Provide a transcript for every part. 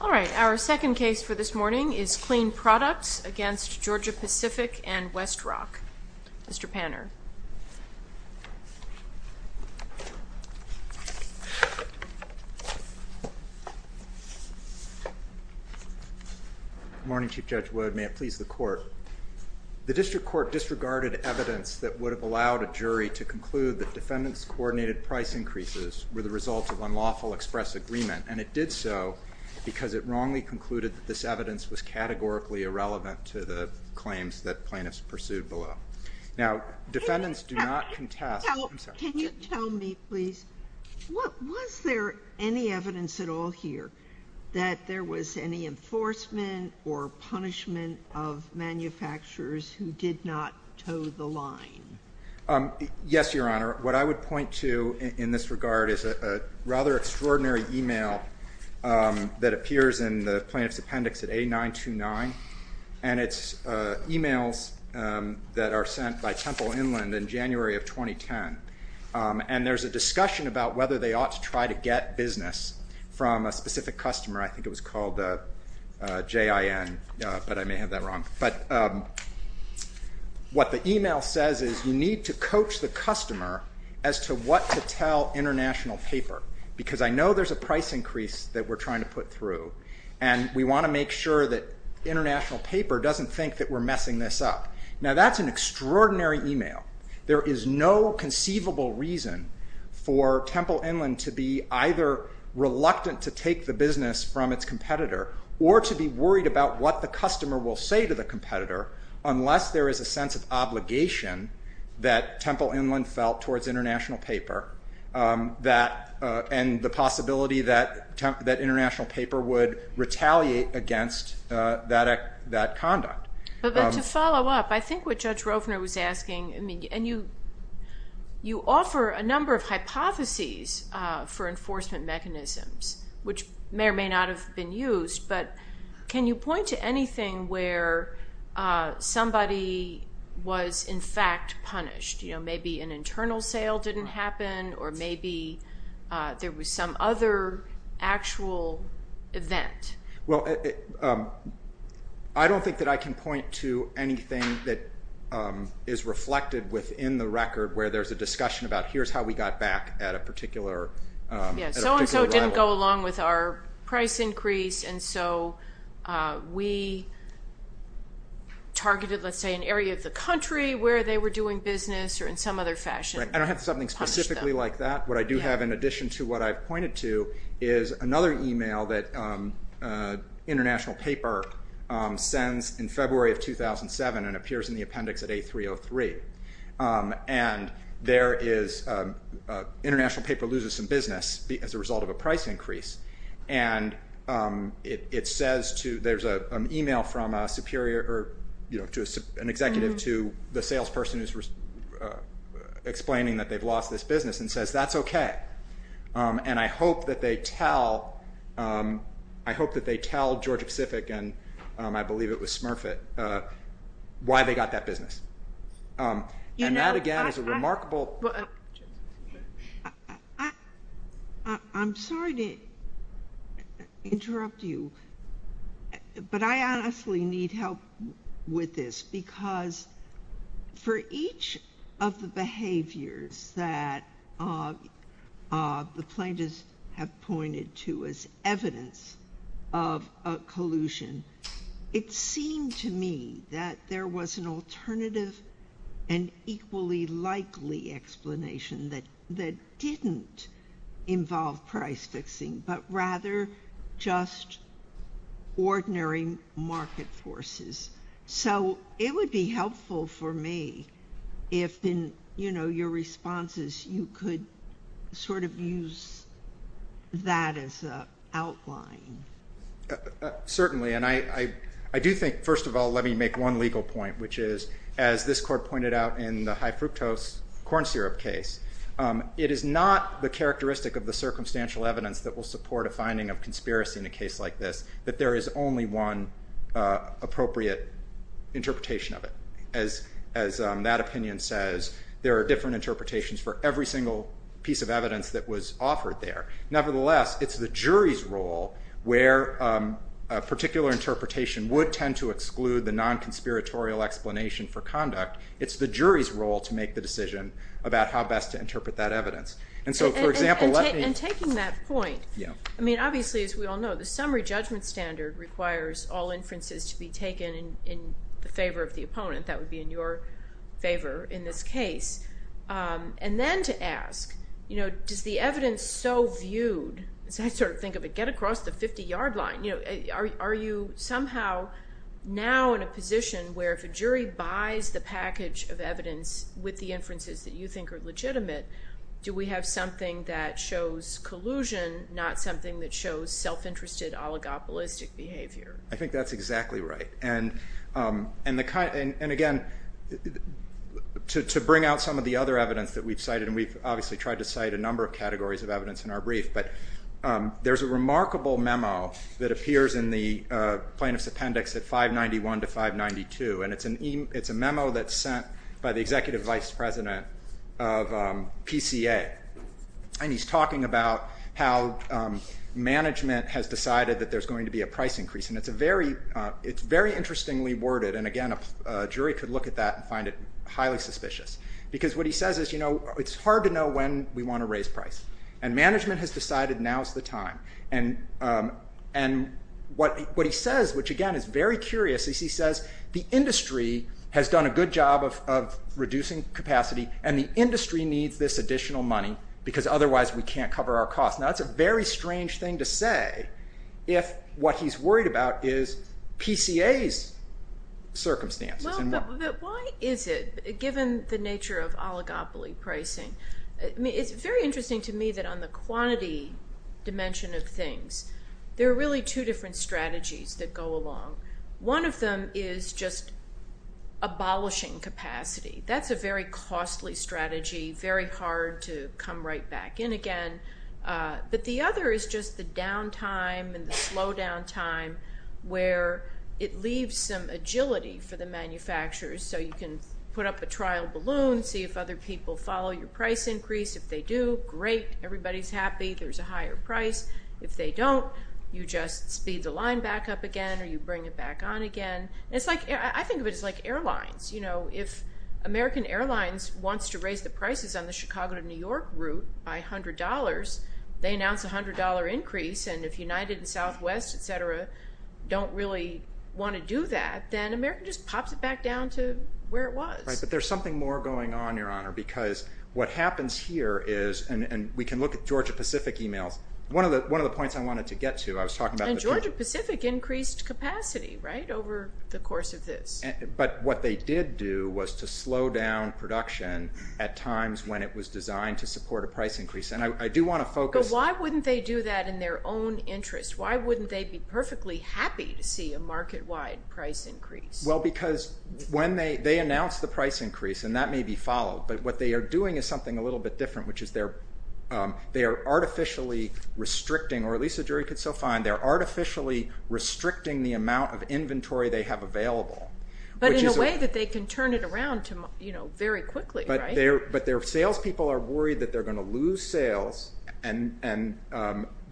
Alright, our second case for this morning is Kleen Products against Georgia-Pacific and Westrock. Mr. Panner. Good morning, Chief Judge Wood. May it please the court. The district court disregarded evidence that would have allowed a jury to conclude that defendants' coordinated price increases were the result of unlawful express agreement, and it did so because it wrongly concluded that this evidence was categorically irrelevant to the claims that plaintiffs pursued below. Now, defendants do not contest- Can you tell me, please, was there any evidence at all here that there was any enforcement or punishment of manufacturers who did not toe the line? Yes, Your Honor. What I would point to in this regard is a rather extraordinary email that appears in the plaintiff's appendix at A929, and it's emails that are sent by Temple Inland in January of 2010. And there's a discussion about whether they ought to try to get business from a specific customer. I think it was called JIN, but I may have that need to coach the customer as to what to tell international paper, because I know there's a price increase that we're trying to put through, and we want to make sure that international paper doesn't think that we're messing this up. Now, that's an extraordinary email. There is no conceivable reason for Temple Inland to be either reluctant to take the business from its competitor or to be worried about what the customer will say to the competitor unless there is a sense of obligation that Temple Inland felt towards international paper and the possibility that international paper would retaliate against that conduct. But to follow up, I think what Judge Rovner was asking, and you offer a number of hypotheses for enforcement mechanisms, which may or may not have been used, but can you point to anything where somebody was in fact punished? Maybe an internal sale didn't happen, or maybe there was some other actual event. Well, I don't think that I can point to anything that is reflected within the record where there's a discussion about here's how we got back at a particular rival. Yes, so and so didn't go along with our price increase, and so we targeted, let's say, an area of the country where they were doing business or in some other fashion. Right, I don't have something specifically like that. What I do have in addition to what I've pointed to is another email that international paper sends in February of 2007 and appears in the appendix at A303, and there is international paper loses some business as a result of a price increase, and it says to, there's an email from an executive to the salesperson explaining that they've lost this business, and says that's okay, and I hope that they tell Georgia Pacific, and I believe it was Smurfit, why they got that business, and that, again, is a remarkable. I'm sorry to interrupt you, but I honestly need help with this, because for each of the behaviors that the plaintiffs have pointed to as evidence of a collusion, it seemed to me that there was an alternative and equally likely explanation that didn't involve price fixing, but rather just ordinary market forces. So it would be helpful for me if, in your responses, you could sort of use that as an outline. Certainly, and I do think, first of all, let me make one legal point, which is, as this court pointed out in the high fructose corn syrup case, it is not the characteristic of the circumstantial evidence that will support a finding of conspiracy in a case like this, that there is only one appropriate interpretation of it. As that opinion says, there are different interpretations for every single piece of evidence that was offered there. Nevertheless, it's the jury's role where a particular interpretation would tend to exclude the non-conspiratorial explanation for conduct. It's the jury's role to make the decision about how best to interpret that evidence. And taking that point, I mean, obviously, as we all know, the summary judgment standard requires all inferences to be taken in favor of the opponent. That would be in your favor in this case. And then to ask, does the evidence so viewed, as I sort of think of it, get across the 50-yard line? Are you somehow now in a position where if a jury buys the package of evidence with the inferences that you think are legitimate, do we have something that shows collusion, not something that shows self-interested, oligopolistic behavior? I think that's exactly right. And again, to bring out some of the other evidence that we've cited, and we've obviously tried to cite a number of categories of evidence in our brief, but there's a remarkable memo that appears in the plaintiff's appendix at 591-592. And it's a memo that's sent by the executive vice president of PCA. And he's talking about how management has decided that there's going to be a price increase. And it's very interestingly worded. And again, a jury could look at that and find it highly suspicious. Because what he says is, you know, it's hard to know when we want to raise price. And management has decided now's the time. And what he says, which again is very curious, is he says the industry has done a good job of reducing capacity and the industry needs this additional money because otherwise we can't cover our costs. Now that's a very strange thing to say if what he's worried about is PCA's circumstances. Well, but why is it, given the nature of oligopoly pricing? It's very interesting to me that on the quantity dimension of things, there are really two different strategies that go along. One of them is just abolishing capacity. That's a very costly strategy, very hard to come right back in again. But the other is just the down time and the slow down time where it leaves some agility for the manufacturers. So you can put up a trial balloon, see if other people follow your price increase. If they do, great, everybody's happy, there's a higher price. If they don't, you just speed the line back up again or you bring it back on again. And I think of it as like airlines. If American Airlines wants to raise the prices on the Chicago to New York route by $100, they announce a $100 increase. And if United and Southwest, et cetera, don't really want to do that, then American just pops it back down to where it was. Right, but there's something more going on, Your Honor, because what happens here is, and we can look at Georgia Pacific emails. One of the points I wanted to get to, I was talking about- Georgia Pacific increased capacity, right, over the course of this. But what they did do was to slow down production at times when it was designed to support a price increase. And I do want to focus- But why wouldn't they do that in their own interest? Why wouldn't they be perfectly happy to see a market-wide price increase? Well, because when they announced the price increase, and that may be followed, but what they are doing is something a little bit different, which is they are artificially restricting, or at least a jury could still find, they are artificially restricting the amount of inventory they have available. But in a way that they can turn it around very quickly, right? But their salespeople are worried that they're going to lose sales, and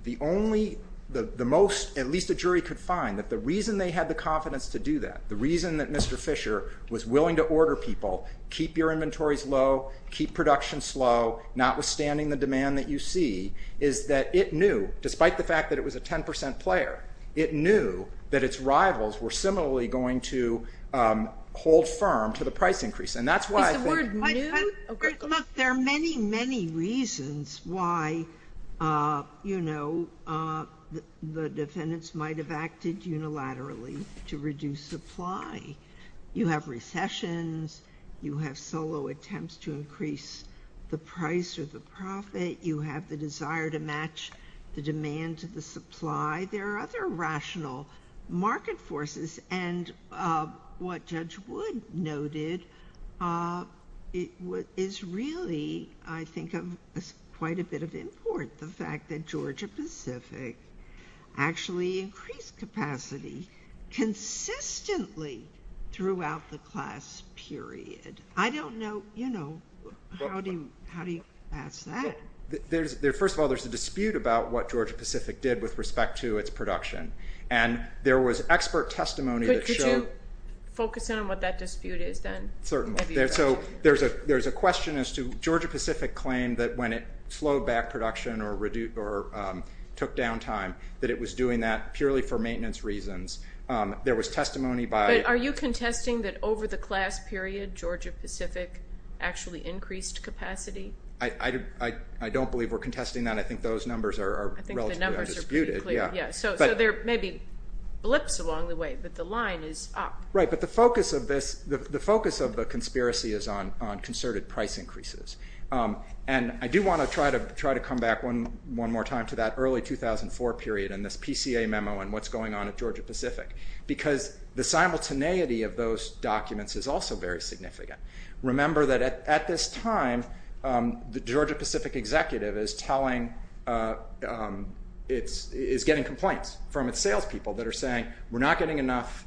the only, the most, at least a jury could find, that the reason they had the confidence to do that, the reason that Mr. Fisher was willing to order people, keep your inventories low, keep production slow, notwithstanding the demand that you see, is that it knew, despite the fact that it was a 10% player, it knew that its rivals were similarly going to hold firm to the price increase. And that's why I think- What is really, I think, quite a bit of import, the fact that Georgia-Pacific actually increased capacity consistently throughout the class period. I don't know, you know, how do you ask that? First of all, there's a dispute about what Georgia-Pacific did with respect to its production, and there was expert testimony that showed- There's a question as to, Georgia-Pacific claimed that when it slowed back production or took down time, that it was doing that purely for maintenance reasons. There was testimony by- But are you contesting that over the class period, Georgia-Pacific actually increased capacity? I don't believe we're contesting that. I think those numbers are relatively undisputed. I think the numbers are pretty clear, yeah. So there may be blips along the way, but the line is up. Right, but the focus of this, the focus of the conspiracy is on concerted price increases. And I do want to try to come back one more time to that early 2004 period and this PCA memo and what's going on at Georgia-Pacific. Because the simultaneity of those documents is also very significant. Remember that at this time, the Georgia-Pacific executive is getting complaints from its salespeople that are saying, we're not getting enough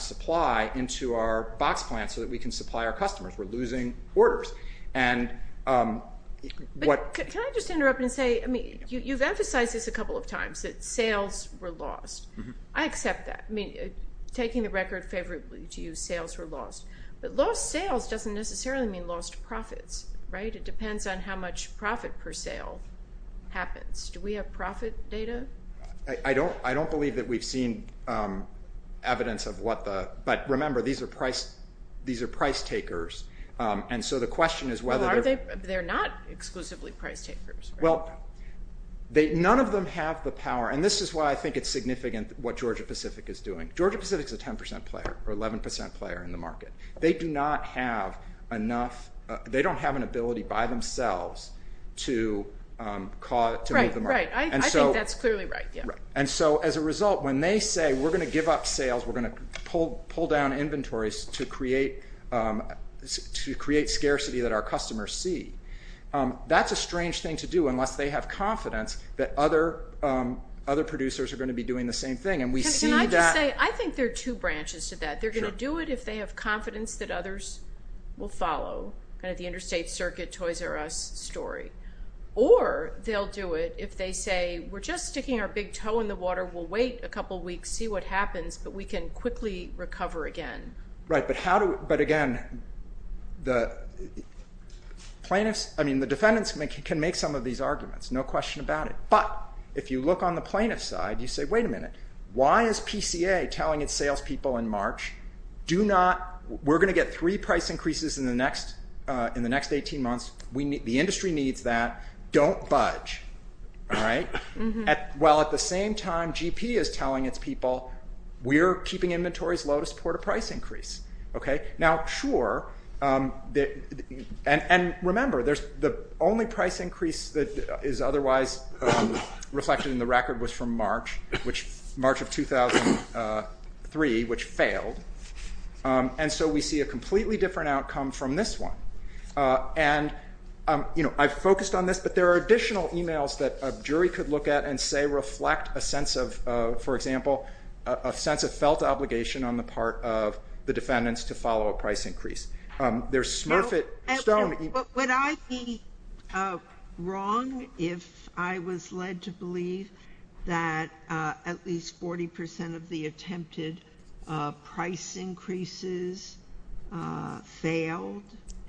supply into our box plant so that we can supply our customers. We're losing orders. Can I just interrupt and say, you've emphasized this a couple of times, that sales were lost. I accept that. I mean, taking the record favorably to you, sales were lost. But lost sales doesn't necessarily mean lost profits, right? It depends on how much profit per sale happens. Do we have profit data? I don't believe that we've seen evidence of what the- but remember, these are price takers. And so the question is whether- Well, they're not exclusively price takers, right? Well, none of them have the power, and this is why I think it's significant what Georgia-Pacific is doing. Georgia-Pacific is a 10% player or 11% player in the market. They do not have enough- they don't have an ability by themselves to cause- Right, right. I think that's clearly right, yeah. And so as a result, when they say, we're going to give up sales, we're going to pull down inventories to create scarcity that our customers see, that's a strange thing to do unless they have confidence that other producers are going to be doing the same thing. And we see that- Can I just say, I think there are two branches to that. They're going to do it if they have confidence that others will follow, kind of the interstate circuit Toys R Us story. Or they'll do it if they say, we're just sticking our big toe in the water. We'll wait a couple weeks, see what happens, but we can quickly recover again. Right, but how do- but again, the plaintiffs- I mean, the defendants can make some of these arguments. No question about it. But if you look on the plaintiff's side, you say, wait a minute. Why is PCA telling its salespeople in March, do not- we're going to get three price increases in the next 18 months. The industry needs that. Don't budge. While at the same time, GP is telling its people, we're keeping inventories low to support a price increase. Now, sure. And remember, the only price increase that is otherwise reflected in the record was from March of 2003, which failed. And so we see a completely different outcome from this one. And, you know, I've focused on this, but there are additional e-mails that a jury could look at and say reflect a sense of, for example, a sense of felt obligation on the part of the defendants to follow a price increase. There's Smurfit Stone-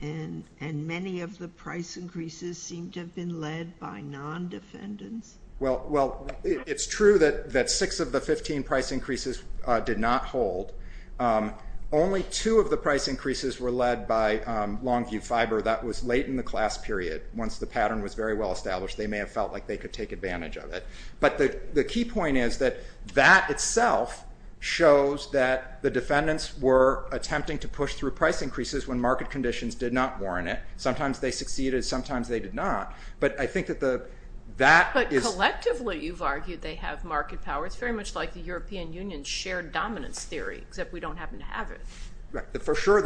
And many of the price increases seem to have been led by non-defendants. Well, it's true that six of the 15 price increases did not hold. Only two of the price increases were led by Longview Fiber. That was late in the class period. Once the pattern was very well established, they may have felt like they could take advantage of it. But the key point is that that itself shows that the defendants were attempting to push through price increases when market conditions did not warrant it. Sometimes they succeeded. Sometimes they did not. But I think that that is- But collectively, you've argued they have market power. It's very much like the European Union's shared dominance theory, except we don't happen to have it. Right. For sure,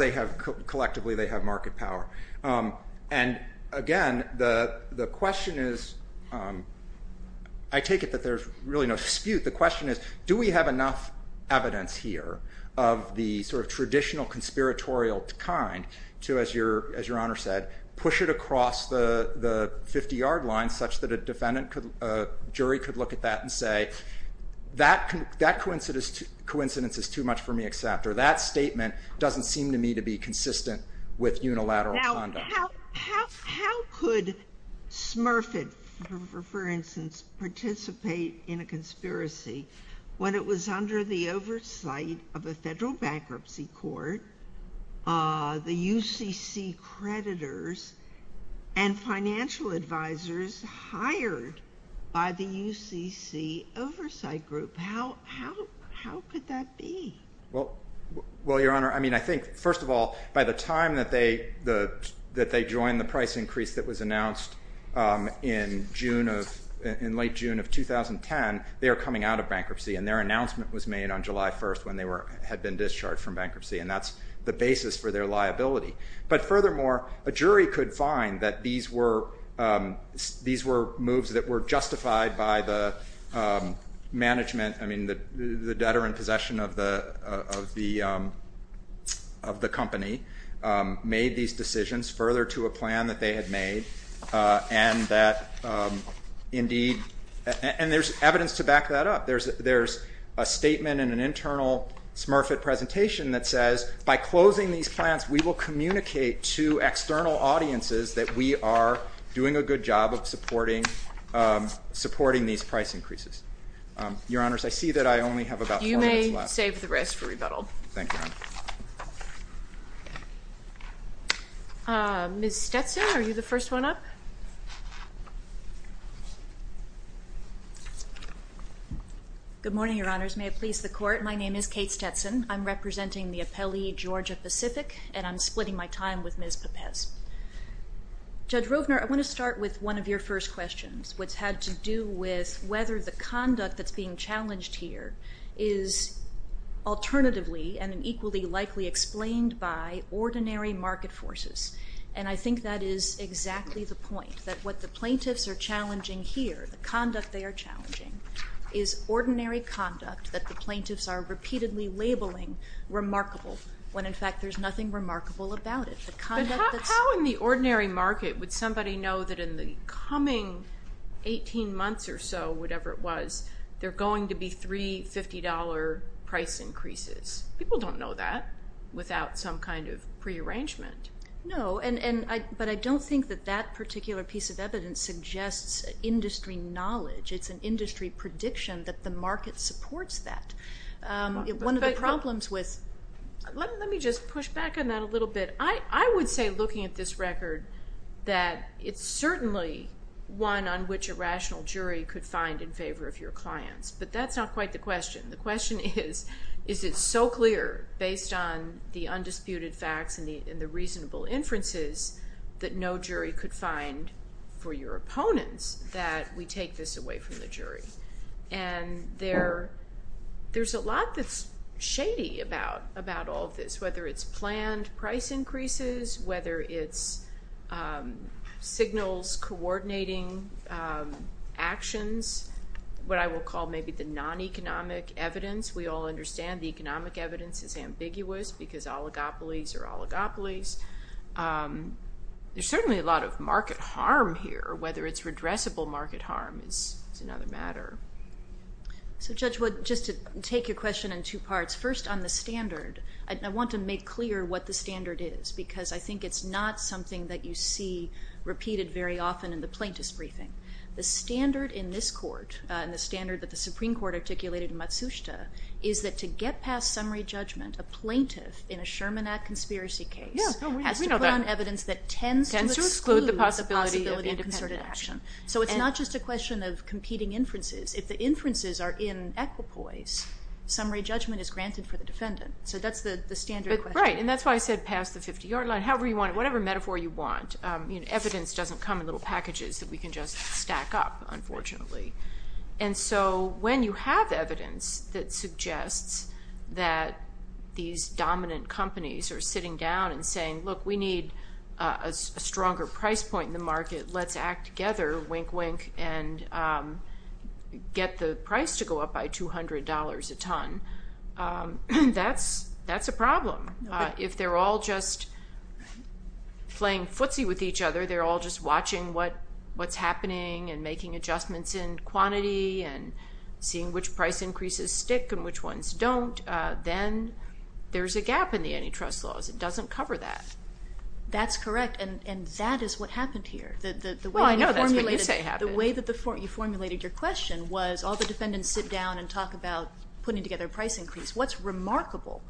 collectively, they have market power. And again, the question is- I take it that there's really no dispute. The question is, do we have enough evidence here of the sort of traditional conspiratorial kind to, as Your Honor said, push it across the 50-yard line such that a defendant, a jury, could look at that and say, that coincidence is too much for me to accept, or that statement doesn't seem to me to be consistent with unilateral conduct. How could Smurfett, for instance, participate in a conspiracy when it was under the oversight of a federal bankruptcy court, the UCC creditors, and financial advisors hired by the UCC oversight group? How could that be? Well, Your Honor, I mean, I think, first of all, by the time that they joined the price increase that was announced in late June of 2010, they were coming out of bankruptcy. And their announcement was made on July 1st when they had been discharged from bankruptcy. And that's the basis for their liability. But furthermore, a jury could find that these were moves that were justified by the management, I mean, the debtor in possession of the company made these decisions further to a plan that they had made. And that indeed- and there's evidence to back that up. There's a statement in an internal Smurfett presentation that says, by closing these plants, we will communicate to external audiences that we are doing a good job of supporting these price increases. Your Honors, I see that I only have about four minutes left. You may save the rest for rebuttal. Thank you, Your Honor. Ms. Stetson, are you the first one up? Good morning, Your Honors. May it please the Court, my name is Kate Stetson. I'm representing the appellee, Georgia Pacific, and I'm splitting my time with Ms. Pepes. Judge Rovner, I want to start with one of your first questions, which had to do with whether the conduct that's being challenged here is alternatively and equally likely explained by ordinary market forces. And I think that is exactly the point, that what the plaintiffs are challenging here, the conduct they are challenging, is ordinary conduct that the plaintiffs are repeatedly labeling remarkable, when in fact there's nothing remarkable about it. But how in the ordinary market would somebody know that in the coming 18 months or so, whatever it was, there are going to be three $50 price increases? People don't know that without some kind of prearrangement. No, but I don't think that that particular piece of evidence suggests industry knowledge. It's an industry prediction that the market supports that. One of the problems with... Let me just push back on that a little bit. I would say, looking at this record, that it's certainly one on which a rational jury could find in favor of your clients. But that's not quite the question. The question is, is it so clear based on the undisputed facts and the reasonable inferences that no jury could find for your opponents that we take this away from the jury? And there's a lot that's shady about all of this, whether it's planned price increases, whether it's signals coordinating actions, what I will call maybe the non-economic evidence. We all understand the economic evidence is ambiguous because oligopolies are oligopolies. There's certainly a lot of market harm here. Whether it's redressable market harm is another matter. So, Judge Wood, just to take your question in two parts. First, on the standard, I want to make clear what the standard is because I think it's not something that you see repeated very often in the plaintiff's briefing. The standard in this court and the standard that the Supreme Court articulated in Matsushita is that to get past summary judgment, a plaintiff in a Sherman Act conspiracy case... Yeah, we know that. ...has to put on evidence that tends to exclude the possibility of independent action. So it's not just a question of competing inferences. If the inferences are in equipoise, summary judgment is granted for the defendant. So that's the standard question. Right, and that's why I said past the 50-yard line. Whatever metaphor you want, evidence doesn't come in little packages that we can just stack up, unfortunately. And so when you have evidence that suggests that these dominant companies are sitting down and saying, look, we need a stronger price point in the market, let's act together, wink, wink, and get the price to go up by $200 a ton, that's a problem. If they're all just playing footsie with each other, they're all just watching what's happening and making adjustments in quantity and seeing which price increases stick and which ones don't, then there's a gap in the antitrust laws. It doesn't cover that. That's correct, and that is what happened here. Well, I know that's what you say happened. The way that you formulated your question was all the defendants sit down and talk about putting together a price increase. What's remarkable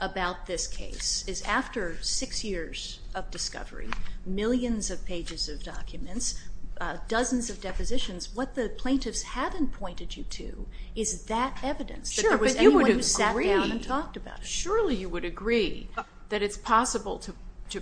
about this case is after six years of discovery, millions of pages of documents, dozens of depositions, what the plaintiffs haven't pointed you to is that evidence that there was anyone who sat down and talked about it. Sure, but you would agree that it's possible to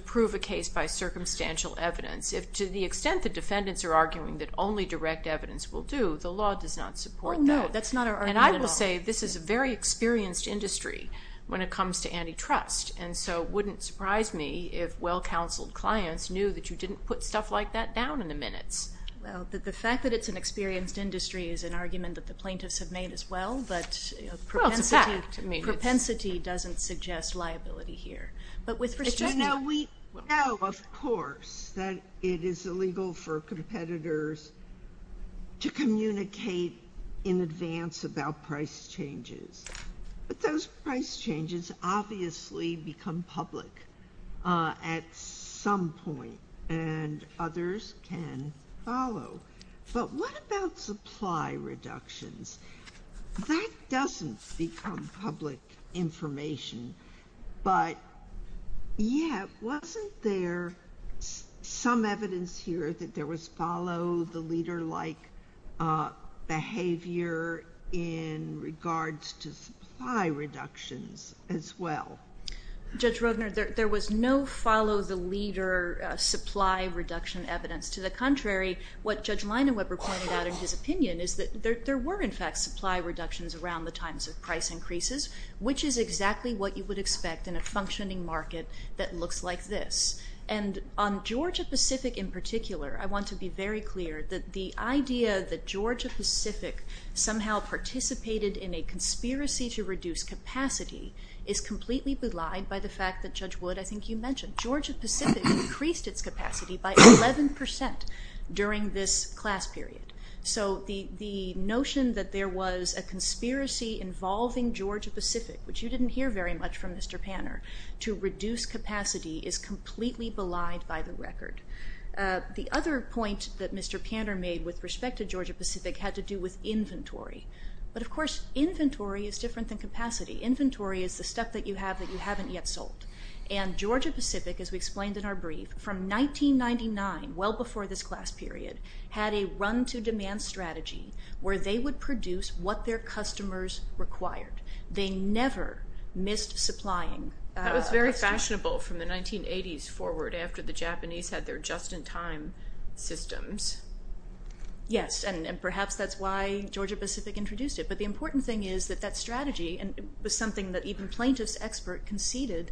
prove a case by circumstantial evidence. To the extent the defendants are arguing that only direct evidence will do, the law does not support that. Oh, no, that's not our argument at all. And I will say this is a very experienced industry when it comes to antitrust, and so it wouldn't surprise me if well-counseled clients knew that you didn't put stuff like that down in the minutes. Well, the fact that it's an experienced industry is an argument that the plaintiffs have made as well, but propensity doesn't suggest liability here. We know, of course, that it is illegal for competitors to communicate in advance about price changes, but those price changes obviously become public at some point, and others can follow. But what about supply reductions? That doesn't become public information, but, yeah, wasn't there some evidence here that there was follow-the-leader-like behavior in regards to supply reductions as well? Judge Rodner, there was no follow-the-leader supply reduction evidence. To the contrary, what Judge Leinaweber pointed out in his opinion is that there were, in fact, supply reductions around the times of price increases, which is exactly what you would expect in a functioning market that looks like this. And on Georgia-Pacific in particular, I want to be very clear that the idea that Georgia-Pacific somehow participated in a conspiracy to reduce capacity is completely belied by the fact that Judge Wood, I think you mentioned, Georgia-Pacific increased its capacity by 11% during this class period. So the notion that there was a conspiracy involving Georgia-Pacific, which you didn't hear very much from Mr. Panner, to reduce capacity is completely belied by the record. The other point that Mr. Panner made with respect to Georgia-Pacific had to do with inventory. But, of course, inventory is different than capacity. Inventory is the stuff that you have that you haven't yet sold. And Georgia-Pacific, as we explained in our brief, from 1999, well before this class period, had a run-to-demand strategy where they would produce what their customers required. They never missed supplying. That was very fashionable from the 1980s forward after the Japanese had their just-in-time systems. Yes, and perhaps that's why Georgia-Pacific introduced it. But the important thing is that that strategy, and it was something that even plaintiffs' expert conceded,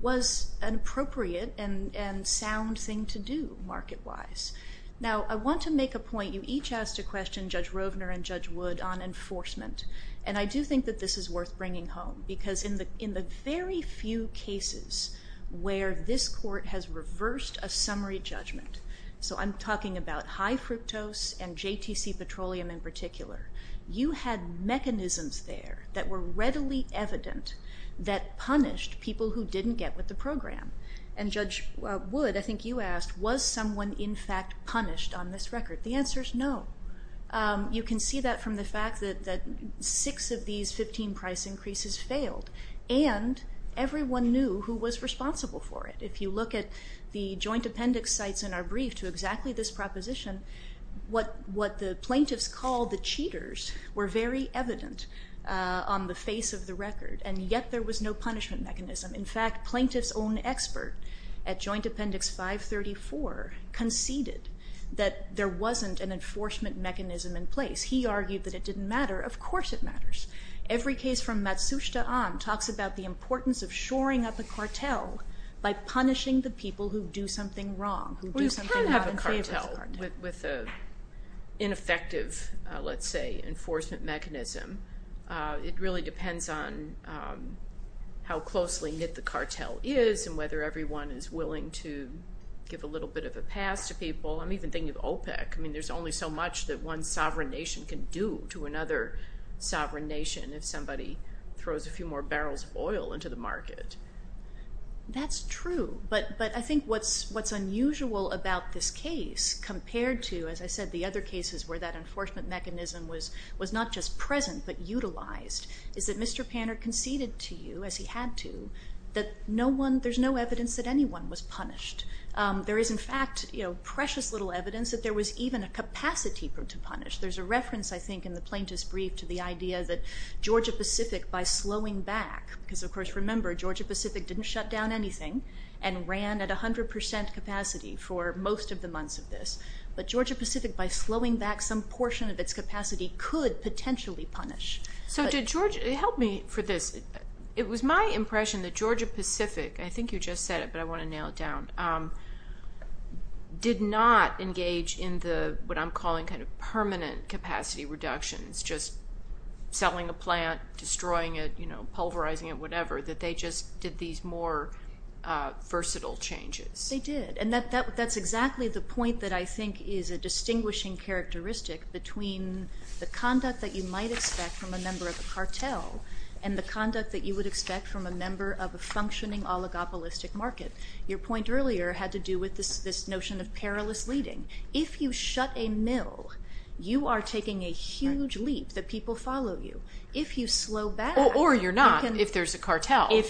was an appropriate and sound thing to do market-wise. Now, I want to make a point. You each asked a question, Judge Rovner and Judge Wood, on enforcement. And I do think that this is worth bringing home because in the very few cases where this court has reversed a summary judgment, so I'm talking about high fructose and JTC Petroleum in particular, you had mechanisms there that were readily evident that punished people who didn't get with the program. And Judge Wood, I think you asked, was someone in fact punished on this record? The answer is no. You can see that from the fact that six of these 15 price increases failed. And everyone knew who was responsible for it. If you look at the joint appendix sites in our brief to exactly this proposition, what the plaintiffs called the cheaters were very evident on the face of the record. And yet there was no punishment mechanism. In fact, plaintiffs' own expert at Joint Appendix 534 conceded that there wasn't an enforcement mechanism in place. He argued that it didn't matter. Of course it matters. Every case from Matsushita on talks about the importance of shoring up a cartel by punishing the people who do something wrong, who do something not in favor of the cartel. Well, you can't have a cartel with an ineffective, let's say, enforcement mechanism. It really depends on how closely knit the cartel is and whether everyone is willing to give a little bit of a pass to people. I'm even thinking of OPEC. I mean, there's only so much that one sovereign nation can do to another sovereign nation if somebody throws a few more barrels of oil into the market. That's true. But I think what's unusual about this case compared to, as I said, the other cases where that enforcement mechanism was not just present but utilized, is that Mr. Panner conceded to you, as he had to, that there's no evidence that anyone was punished. There is, in fact, precious little evidence that there was even a capacity to punish. There's a reference, I think, in the plaintiff's brief to the idea that Georgia Pacific, by slowing back, because, of course, remember, Georgia Pacific didn't shut down anything and ran at 100 percent capacity for most of the months of this. But Georgia Pacific, by slowing back some portion of its capacity, could potentially punish. So did Georgia, help me for this, it was my impression that Georgia Pacific, I think you just said it but I want to nail it down, did not engage in what I'm calling kind of permanent capacity reductions, just selling a plant, destroying it, pulverizing it, whatever, that they just did these more versatile changes. They did. And that's exactly the point that I think is a distinguishing characteristic between the conduct that you might expect from a member of a cartel and the conduct that you would expect from a member of a functioning oligopolistic market. Your point earlier had to do with this notion of perilous leading. If you shut a mill, you are taking a huge leap that people follow you. If you slow back. Or you're not if there's a cartel. Or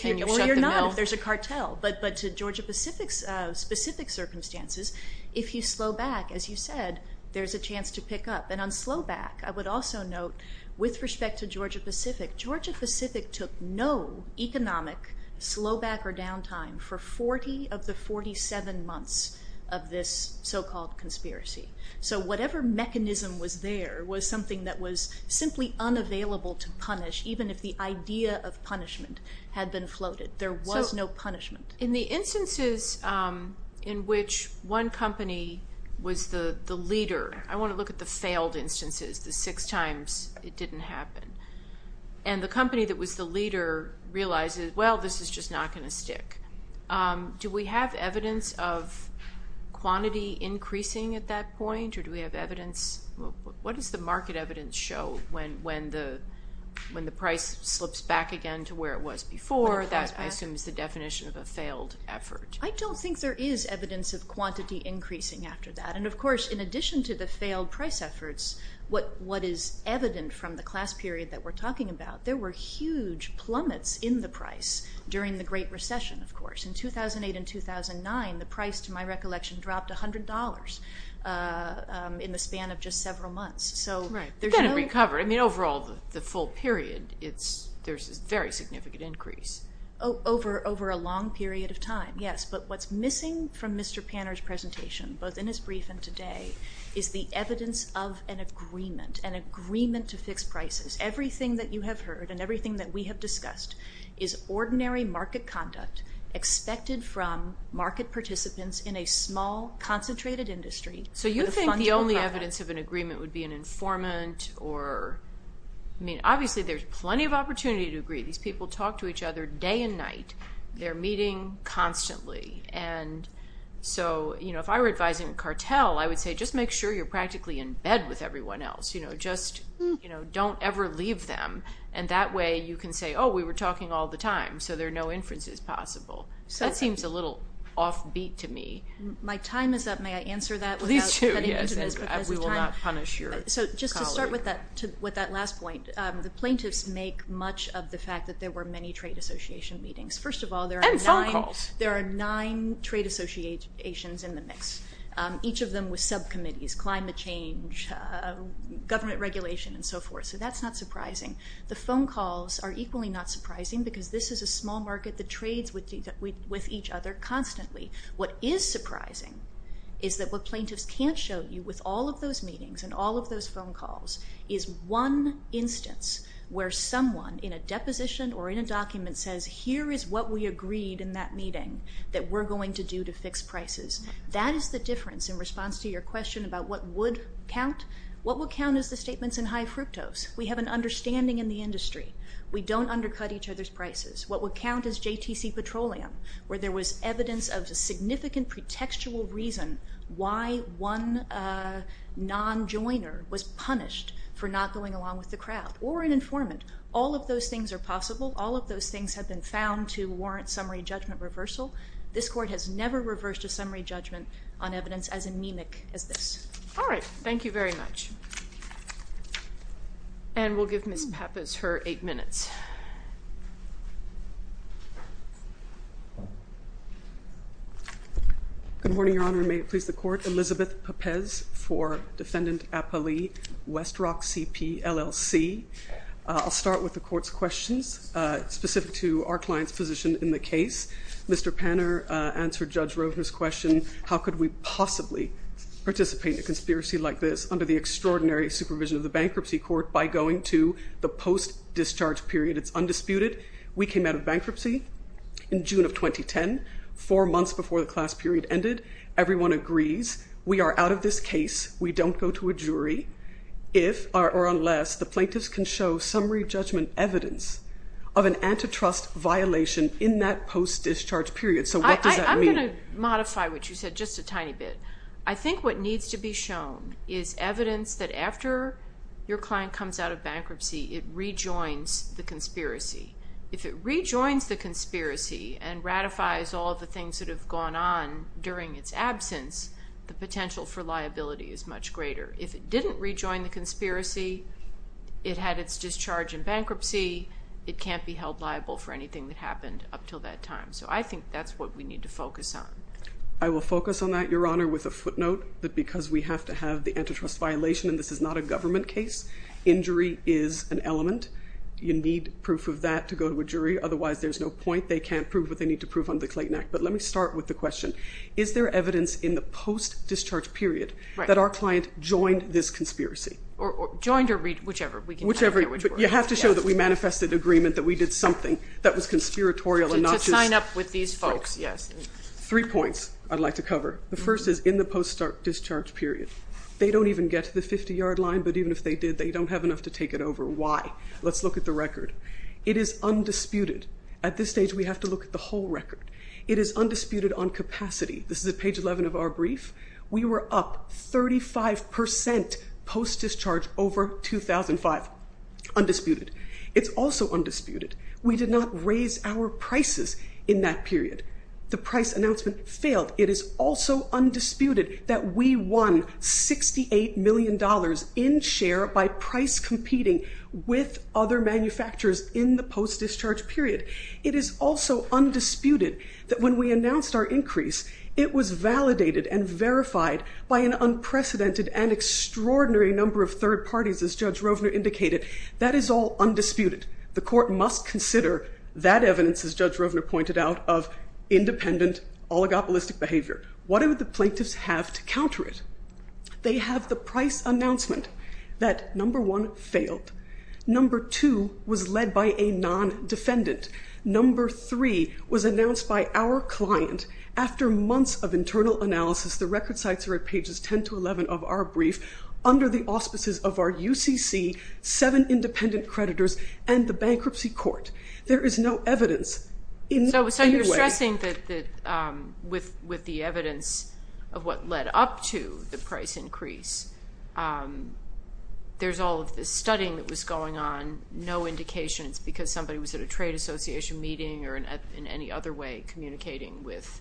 you're not if there's a cartel. But to Georgia Pacific's specific circumstances, if you slow back, as you said, there's a chance to pick up. And on slow back, I would also note, with respect to Georgia Pacific, Georgia Pacific took no economic slow back or down time for 40 of the 47 months of this so-called conspiracy. So whatever mechanism was there was something that was simply unavailable to punish, even if the idea of punishment had been floated. There was no punishment. In the instances in which one company was the leader, I want to look at the failed instances, the six times it didn't happen. And the company that was the leader realizes, well, this is just not going to stick. Do we have evidence of quantity increasing at that point? Or do we have evidence? What does the market evidence show when the price slips back again to where it was before? That, I assume, is the definition of a failed effort. I don't think there is evidence of quantity increasing after that. And, of course, in addition to the failed price efforts, what is evident from the class period that we're talking about, there were huge plummets in the price during the Great Recession, of course. In 2008 and 2009, the price, to my recollection, dropped $100 in the span of just several months. Right. It didn't recover. I mean, overall, the full period, there's a very significant increase. Over a long period of time, yes. But what's missing from Mr. Panner's presentation, both in his brief and today, is the evidence of an agreement, an agreement to fix prices. Everything that you have heard and everything that we have discussed is ordinary market conduct expected from market participants in a small, concentrated industry. So you think the only evidence of an agreement would be an informant or, I mean, obviously there's plenty of opportunity to agree. These people talk to each other day and night. They're meeting constantly. And so, you know, if I were advising a cartel, I would say just make sure you're practically in bed with everyone else. You know, just, you know, don't ever leave them. And that way you can say, oh, we were talking all the time, so there are no inferences possible. That seems a little offbeat to me. My time is up. May I answer that? Please do, yes. We will not punish your colleague. So just to start with that last point, the plaintiffs make much of the fact that there were many trade association meetings. First of all, there are nine trade associations in the mix, each of them with subcommittees, climate change, government regulation, and so forth. So that's not surprising. The phone calls are equally not surprising because this is a small market that trades with each other constantly. What is surprising is that what plaintiffs can't show you with all of those meetings and all of those phone calls is one instance where someone in a deposition or in a document says here is what we agreed in that meeting that we're going to do to fix prices. That is the difference in response to your question about what would count. What would count is the statements in high fructose. We have an understanding in the industry. We don't undercut each other's prices. What would count is JTC Petroleum, where there was evidence of a significant pretextual reason why one non-joiner was punished for not going along with the crowd or an informant. All of those things are possible. All of those things have been found to warrant summary judgment reversal. This Court has never reversed a summary judgment on evidence as anemic as this. All right. Thank you very much. And we'll give Ms. Pappas her eight minutes. Good morning, Your Honor. May it please the Court. Elizabeth Pappas for Defendant Appali, West Rock CPLLC. I'll start with the Court's questions specific to our client's position in the case. Mr. Panner answered Judge Rovner's question, how could we possibly participate in a conspiracy like this under the extraordinary supervision of the bankruptcy court by going to the post-discharge period? It's undisputed. We came out of bankruptcy in June of 2010, four months before the class period ended. Everyone agrees. We are out of this case. We don't go to a jury if or unless the plaintiffs can show summary judgment evidence of an antitrust violation in that post-discharge period. So what does that mean? I'm going to modify what you said just a tiny bit. I think what needs to be shown is evidence that after your client comes out of bankruptcy, it rejoins the conspiracy. If it rejoins the conspiracy and ratifies all the things that have gone on during its absence, the potential for liability is much greater. If it didn't rejoin the conspiracy, it had its discharge in bankruptcy, it can't be held liable for anything that happened up until that time. So I think that's what we need to focus on. I will focus on that, Your Honor, with a footnote, that because we have to have the antitrust violation and this is not a government case, injury is an element. You need proof of that to go to a jury. Otherwise, there's no point. They can't prove what they need to prove under the Clayton Act. But let me start with the question. Is there evidence in the post-discharge period that our client joined this conspiracy? Joined or rejoined, whichever. Whichever, but you have to show that we manifested agreement that we did something that was conspiratorial. To sign up with these folks, yes. Three points I'd like to cover. The first is in the post-discharge period. They don't even get to the 50-yard line, but even if they did, they don't have enough to take it over. Why? Let's look at the record. It is undisputed. At this stage, we have to look at the whole record. It is undisputed on capacity. This is at page 11 of our brief. We were up 35% post-discharge over 2005. Undisputed. It's also undisputed. We did not raise our prices in that period. The price announcement failed. It is also undisputed that we won $68 million in share by price competing with other manufacturers in the post-discharge period. It is also undisputed that when we announced our increase, it was validated and verified by an unprecedented and extraordinary number of third parties, as Judge Rovner indicated. That is all undisputed. The court must consider that evidence, as Judge Rovner pointed out, of independent, oligopolistic behavior. What do the plaintiffs have to counter it? They have the price announcement that, number one, failed. Number two was led by a non-defendant. Number three was announced by our client after months of internal analysis. The record sites are at pages 10 to 11 of our brief, under the auspices of our UCC, seven independent creditors, and the bankruptcy court. There is no evidence in any way. So you're stressing that with the evidence of what led up to the price increase, there's all of this studying that was going on, no indications, because somebody was at a trade association meeting or in any other way communicating with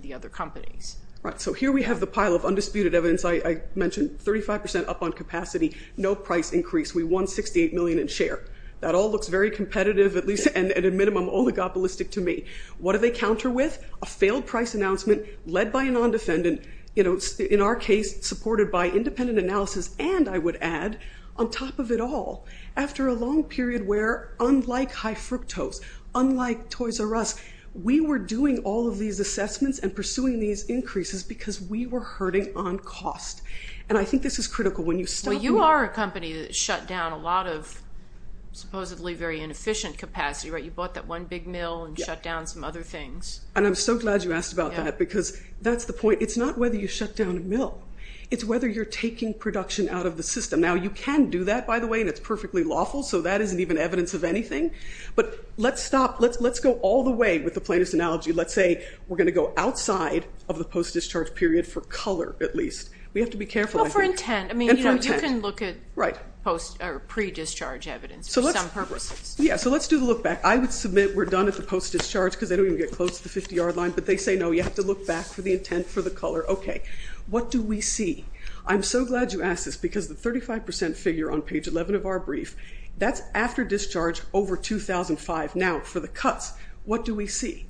the other companies. So here we have the pile of undisputed evidence. I mentioned 35% up on capacity, no price increase. We won $68 million in share. That all looks very competitive, at least at a minimum, oligopolistic to me. What do they counter with? A failed price announcement led by a non-defendant, in our case supported by independent analysis, and I would add, on top of it all, after a long period where, unlike High Fructose, unlike Toys R Us, we were doing all of these assessments and pursuing these increases because we were hurting on cost. And I think this is critical. Well, you are a company that shut down a lot of supposedly very inefficient capacity. You bought that one big mill and shut down some other things. And I'm so glad you asked about that because that's the point. It's not whether you shut down a mill. It's whether you're taking production out of the system. Now, you can do that, by the way, and it's perfectly lawful, so that isn't even evidence of anything. But let's stop. Let's go all the way with the plaintiff's analogy. Let's say we're going to go outside of the post-discharge period for color, at least. We have to be careful. Well, for intent. You can look at pre-discharge evidence for some purposes. Yeah, so let's do the look back. I would submit we're done at the post-discharge because they don't even get close to the 50-yard line, but they say, no, you have to look back for the intent for the color. Okay, what do we see? I'm so glad you asked this because the 35% figure on page 11 of our brief, that's after discharge over 2005. Now, for the cuts, what do we see?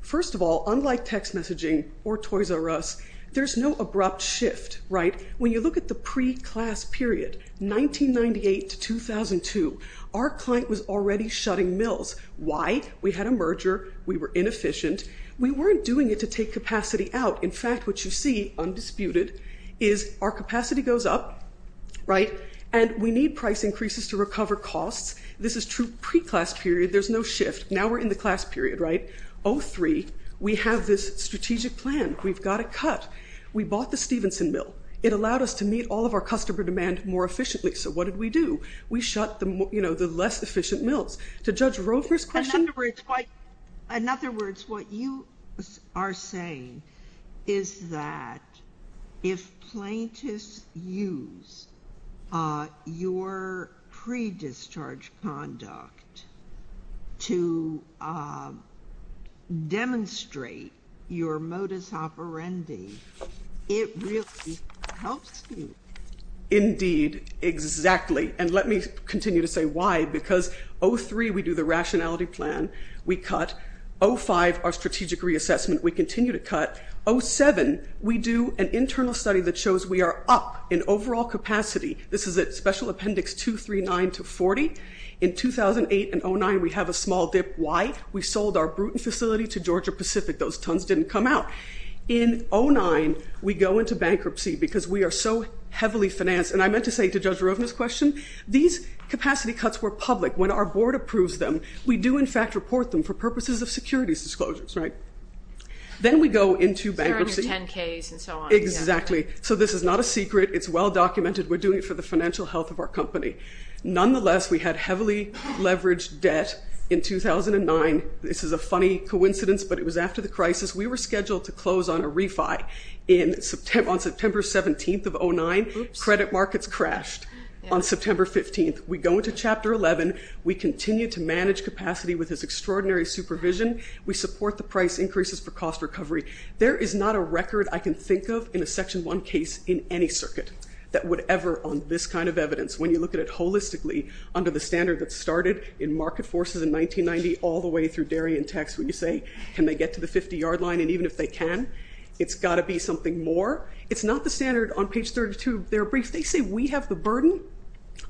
First of all, unlike text messaging or Toys R Us, there's no abrupt shift, right? When you look at the pre-class period, 1998 to 2002, our client was already shutting mills. Why? We had a merger. We were inefficient. We weren't doing it to take capacity out. In fact, what you see, undisputed, is our capacity goes up, right, and we need price increases to recover costs. This is true pre-class period. There's no shift. Now we're in the class period, right? 2003, we have this strategic plan. We've got to cut. We bought the Stevenson mill. It allowed us to meet all of our customer demand more efficiently. So what did we do? We shut the less efficient mills. To Judge Roper's question. In other words, what you are saying is that if plaintiffs use your pre-discharge conduct to demonstrate your modus operandi, it really helps you. Indeed, exactly. And let me continue to say why. Because 03, we do the rationality plan. We cut. 05, our strategic reassessment. We continue to cut. 07, we do an internal study that shows we are up in overall capacity. This is at Special Appendix 239 to 40. In 2008 and 09, we have a small dip. Why? We sold our Bruton facility to Georgia Pacific. Those tons didn't come out. In 09, we go into bankruptcy because we are so heavily financed. And I meant to say to Judge Roper's question, these capacity cuts were public. When our board approves them, we do, in fact, report them for purposes of securities disclosures, right? Then we go into bankruptcy. Exactly. So this is not a secret. It's well documented. We're doing it for the financial health of our company. Nonetheless, we had heavily leveraged debt in 2009. This is a funny coincidence, but it was after the crisis. We were scheduled to close on a refi on September 17th of 09. Credit markets crashed on September 15th. We go into Chapter 11. We continue to manage capacity with this extraordinary supervision. We support the price increases for cost recovery. There is not a record I can think of in a Section 1 case in any circuit that would ever on this kind of evidence, when you look at it holistically under the standard that started in market forces in 1990 all the way through dairy and tax, when you say, can they get to the 50-yard line? And even if they can, it's got to be something more. It's not the standard on page 32 of their brief. They say we have the burden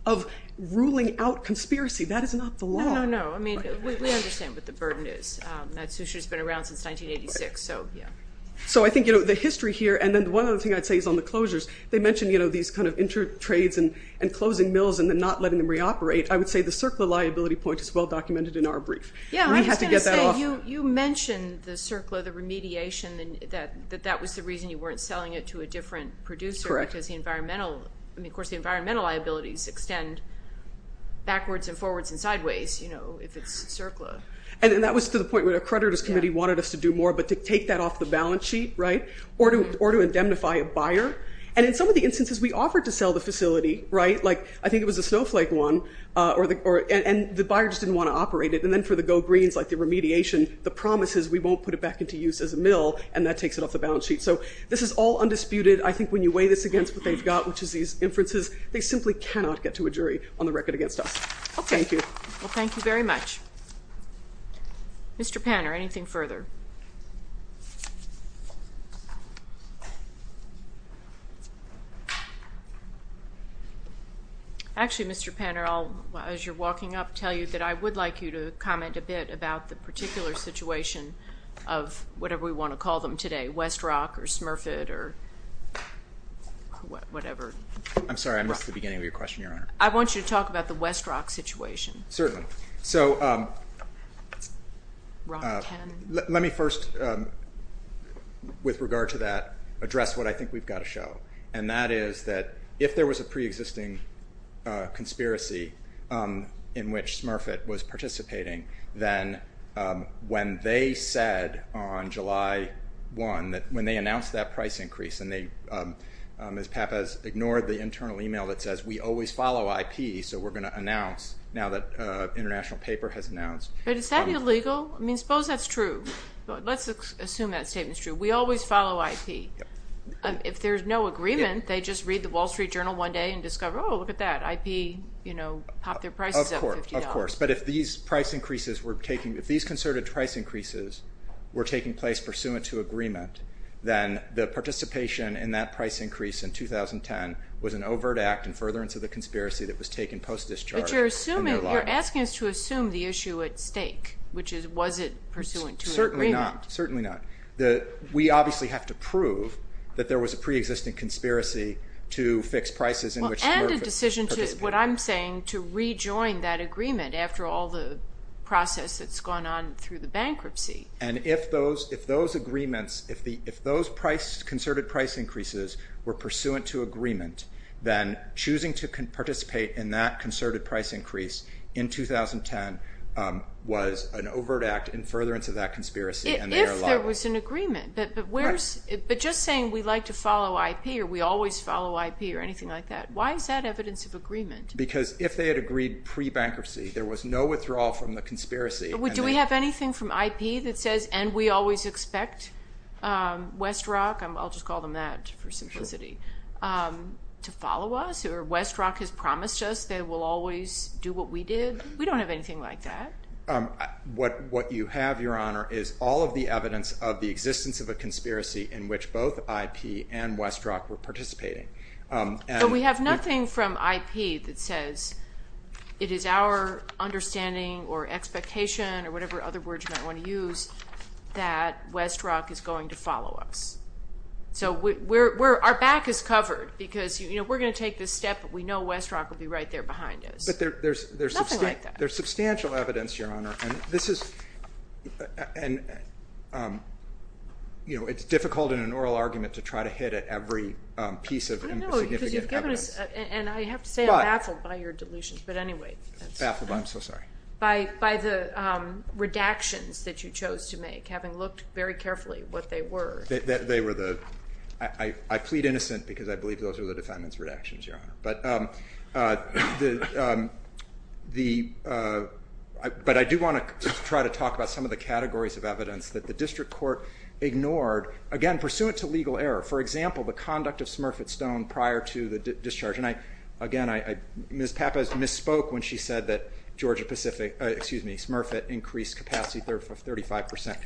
of ruling out conspiracy. That is not the law. No, no, no. I mean, we understand what the burden is. Natsusha's been around since 1986. So, yeah. So I think, you know, the history here, and then one other thing I'd say is on the closures. They mentioned, you know, these kind of inter-trades and closing mills and then not letting them reoperate. I would say the CERCLA liability point is well documented in our brief. Yeah, I was going to say, you mentioned the CERCLA, the remediation, that that was the reason you weren't selling it to a different producer. Correct. Because the environmental, I mean, of course, the environmental liabilities extend backwards and forwards and sideways, you know, if it's CERCLA. And that was to the point where the accreditors committee wanted us to do more but to take that off the balance sheet, right, or to indemnify a buyer. And in some of the instances we offered to sell the facility, right, like I think it was the Snowflake one, and the buyers didn't want to operate it. And then for the Go Greens, like the remediation, the promise is we won't put it back into use as a mill, and that takes it off the balance sheet. So this is all undisputed. I think when you weigh this against what they've got, which is these inferences, they simply cannot get to a jury on the record against us. Okay. Thank you. Well, thank you very much. Mr. Panner, anything further? Actually, Mr. Panner, as you're walking up, I would like to tell you that I would like you to comment a bit about the particular situation of whatever we want to call them today, Westrock or Smurfett or whatever. I'm sorry, I missed the beginning of your question, Your Honor. I want you to talk about the Westrock situation. Certainly. So let me first, with regard to that, address what I think we've got to show, and that is that if there was a preexisting conspiracy in which Smurfett was participating, then when they said on July 1 that when they announced that price increase and they, as Pap has ignored the internal e-mail that says, we always follow IP, so we're going to announce, now that international paper has announced. But is that illegal? I mean, suppose that's true. Let's assume that statement's true. We always follow IP. If there's no agreement, they just read the Wall Street Journal one day and discover, oh, look at that, IP, you know, pop their prices up $50. Of course. But if these price increases were taking, if these concerted price increases were taking place pursuant to agreement, then the participation in that price increase in 2010 was an overt act in furtherance of the conspiracy that was taken post-discharge. But you're asking us to assume the issue at stake, which is, was it pursuant to agreement? Certainly not. Certainly not. We obviously have to prove that there was a preexisting conspiracy to fix prices in which we were participating. Well, and a decision to, what I'm saying, to rejoin that agreement after all the process that's gone on through the bankruptcy. And if those agreements, if those price, concerted price increases were pursuant to agreement, then choosing to participate in that concerted price increase in 2010 was an overt act in furtherance of that conspiracy. If there was an agreement, but where's, but just saying we'd like to follow IP or we always follow IP or anything like that. Why is that evidence of agreement? Because if they had agreed pre-bankruptcy, there was no withdrawal from the conspiracy. Do we have anything from IP that says, and we always expect Westrock, I'll just call them that for simplicity, to follow us or Westrock has promised us they will always do what we did. We don't have anything like that. What you have, Your Honor, is all of the evidence of the existence of a conspiracy in which both IP and Westrock were participating. But we have nothing from IP that says it is our understanding or expectation or whatever other word you might want to use that Westrock is going to follow us. So our back is covered because we're going to take this step, but we know Westrock will be right there behind us. Nothing like that. There's substantial evidence, Your Honor, and it's difficult in an oral argument to try to hit at every piece of significant evidence. I know because you've given us, and I have to say I'm baffled by your delusions, but anyway. Baffled, I'm so sorry. By the redactions that you chose to make, having looked very carefully what they were. They were the, I plead innocent because I believe those are the defendant's redactions, Your Honor. But I do want to try to talk about some of the categories of evidence that the district court ignored. Again, pursuant to legal error, for example, the conduct of Smurfett Stone prior to the discharge. And again, Ms. Pappas misspoke when she said that Georgia Pacific, excuse me, Smurfett increased capacity 35%.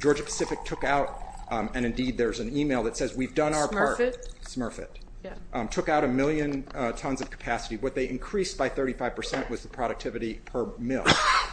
Georgia Pacific took out, and indeed there's an email that says, we've done our part. Smurfett? Smurfett. Yeah. Took out a million tons of capacity. What they increased by 35% was the productivity per mil,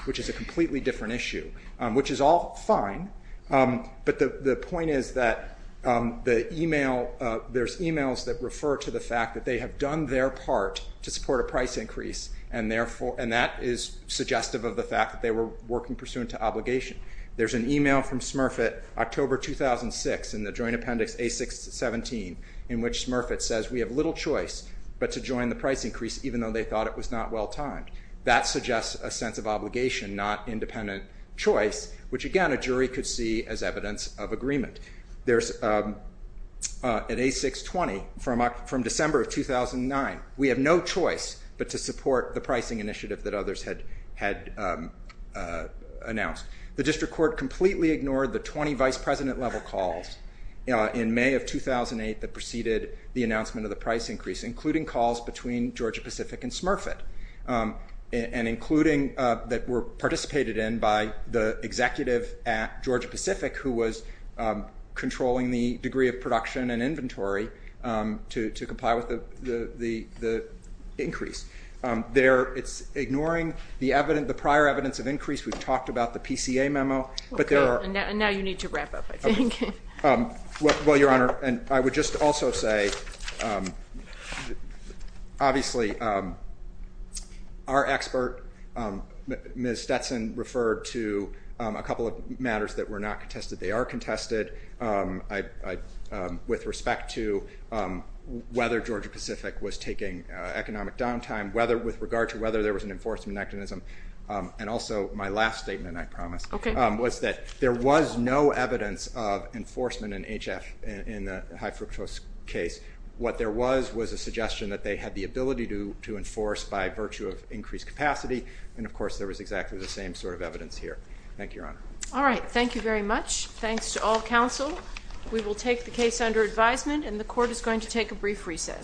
which is a completely different issue, which is all fine. But the point is that the email, there's emails that refer to the fact that they have done their part to support a price increase. And that is suggestive of the fact that they were working pursuant to obligation. There's an email from Smurfett, October 2006, in the joint appendix A-6-17, in which Smurfett says, we have little choice but to join the price increase, even though they thought it was not well-timed. That suggests a sense of obligation, not independent choice, which, again, a jury could see as evidence of agreement. At A-6-20, from December of 2009, we have no choice but to support the pricing initiative that others had announced. The district court completely ignored the 20 vice president level calls in May of 2008 that preceded the announcement of the price increase, including calls between Georgia Pacific and Smurfett, and including that were participated in by the executive at Georgia Pacific, who was controlling the degree of production and inventory to comply with the increase. It's ignoring the prior evidence of increase. We've talked about the PCA memo. And now you need to wrap up, I think. Well, Your Honor, I would just also say, obviously our expert, Ms. Stetson, referred to a couple of matters that were not contested. They are contested. With respect to whether Georgia Pacific was taking economic downtime, with regard to whether there was an enforcement mechanism, and also my last statement, I promise, was that there was no evidence of enforcement in H-F in the high fructose case. What there was was a suggestion that they had the ability to enforce by virtue of increased capacity. And, of course, there was exactly the same sort of evidence here. Thank you, Your Honor. All right. Thank you very much. Thanks to all counsel. We will take the case under advisement, and the court is going to take a brief recess.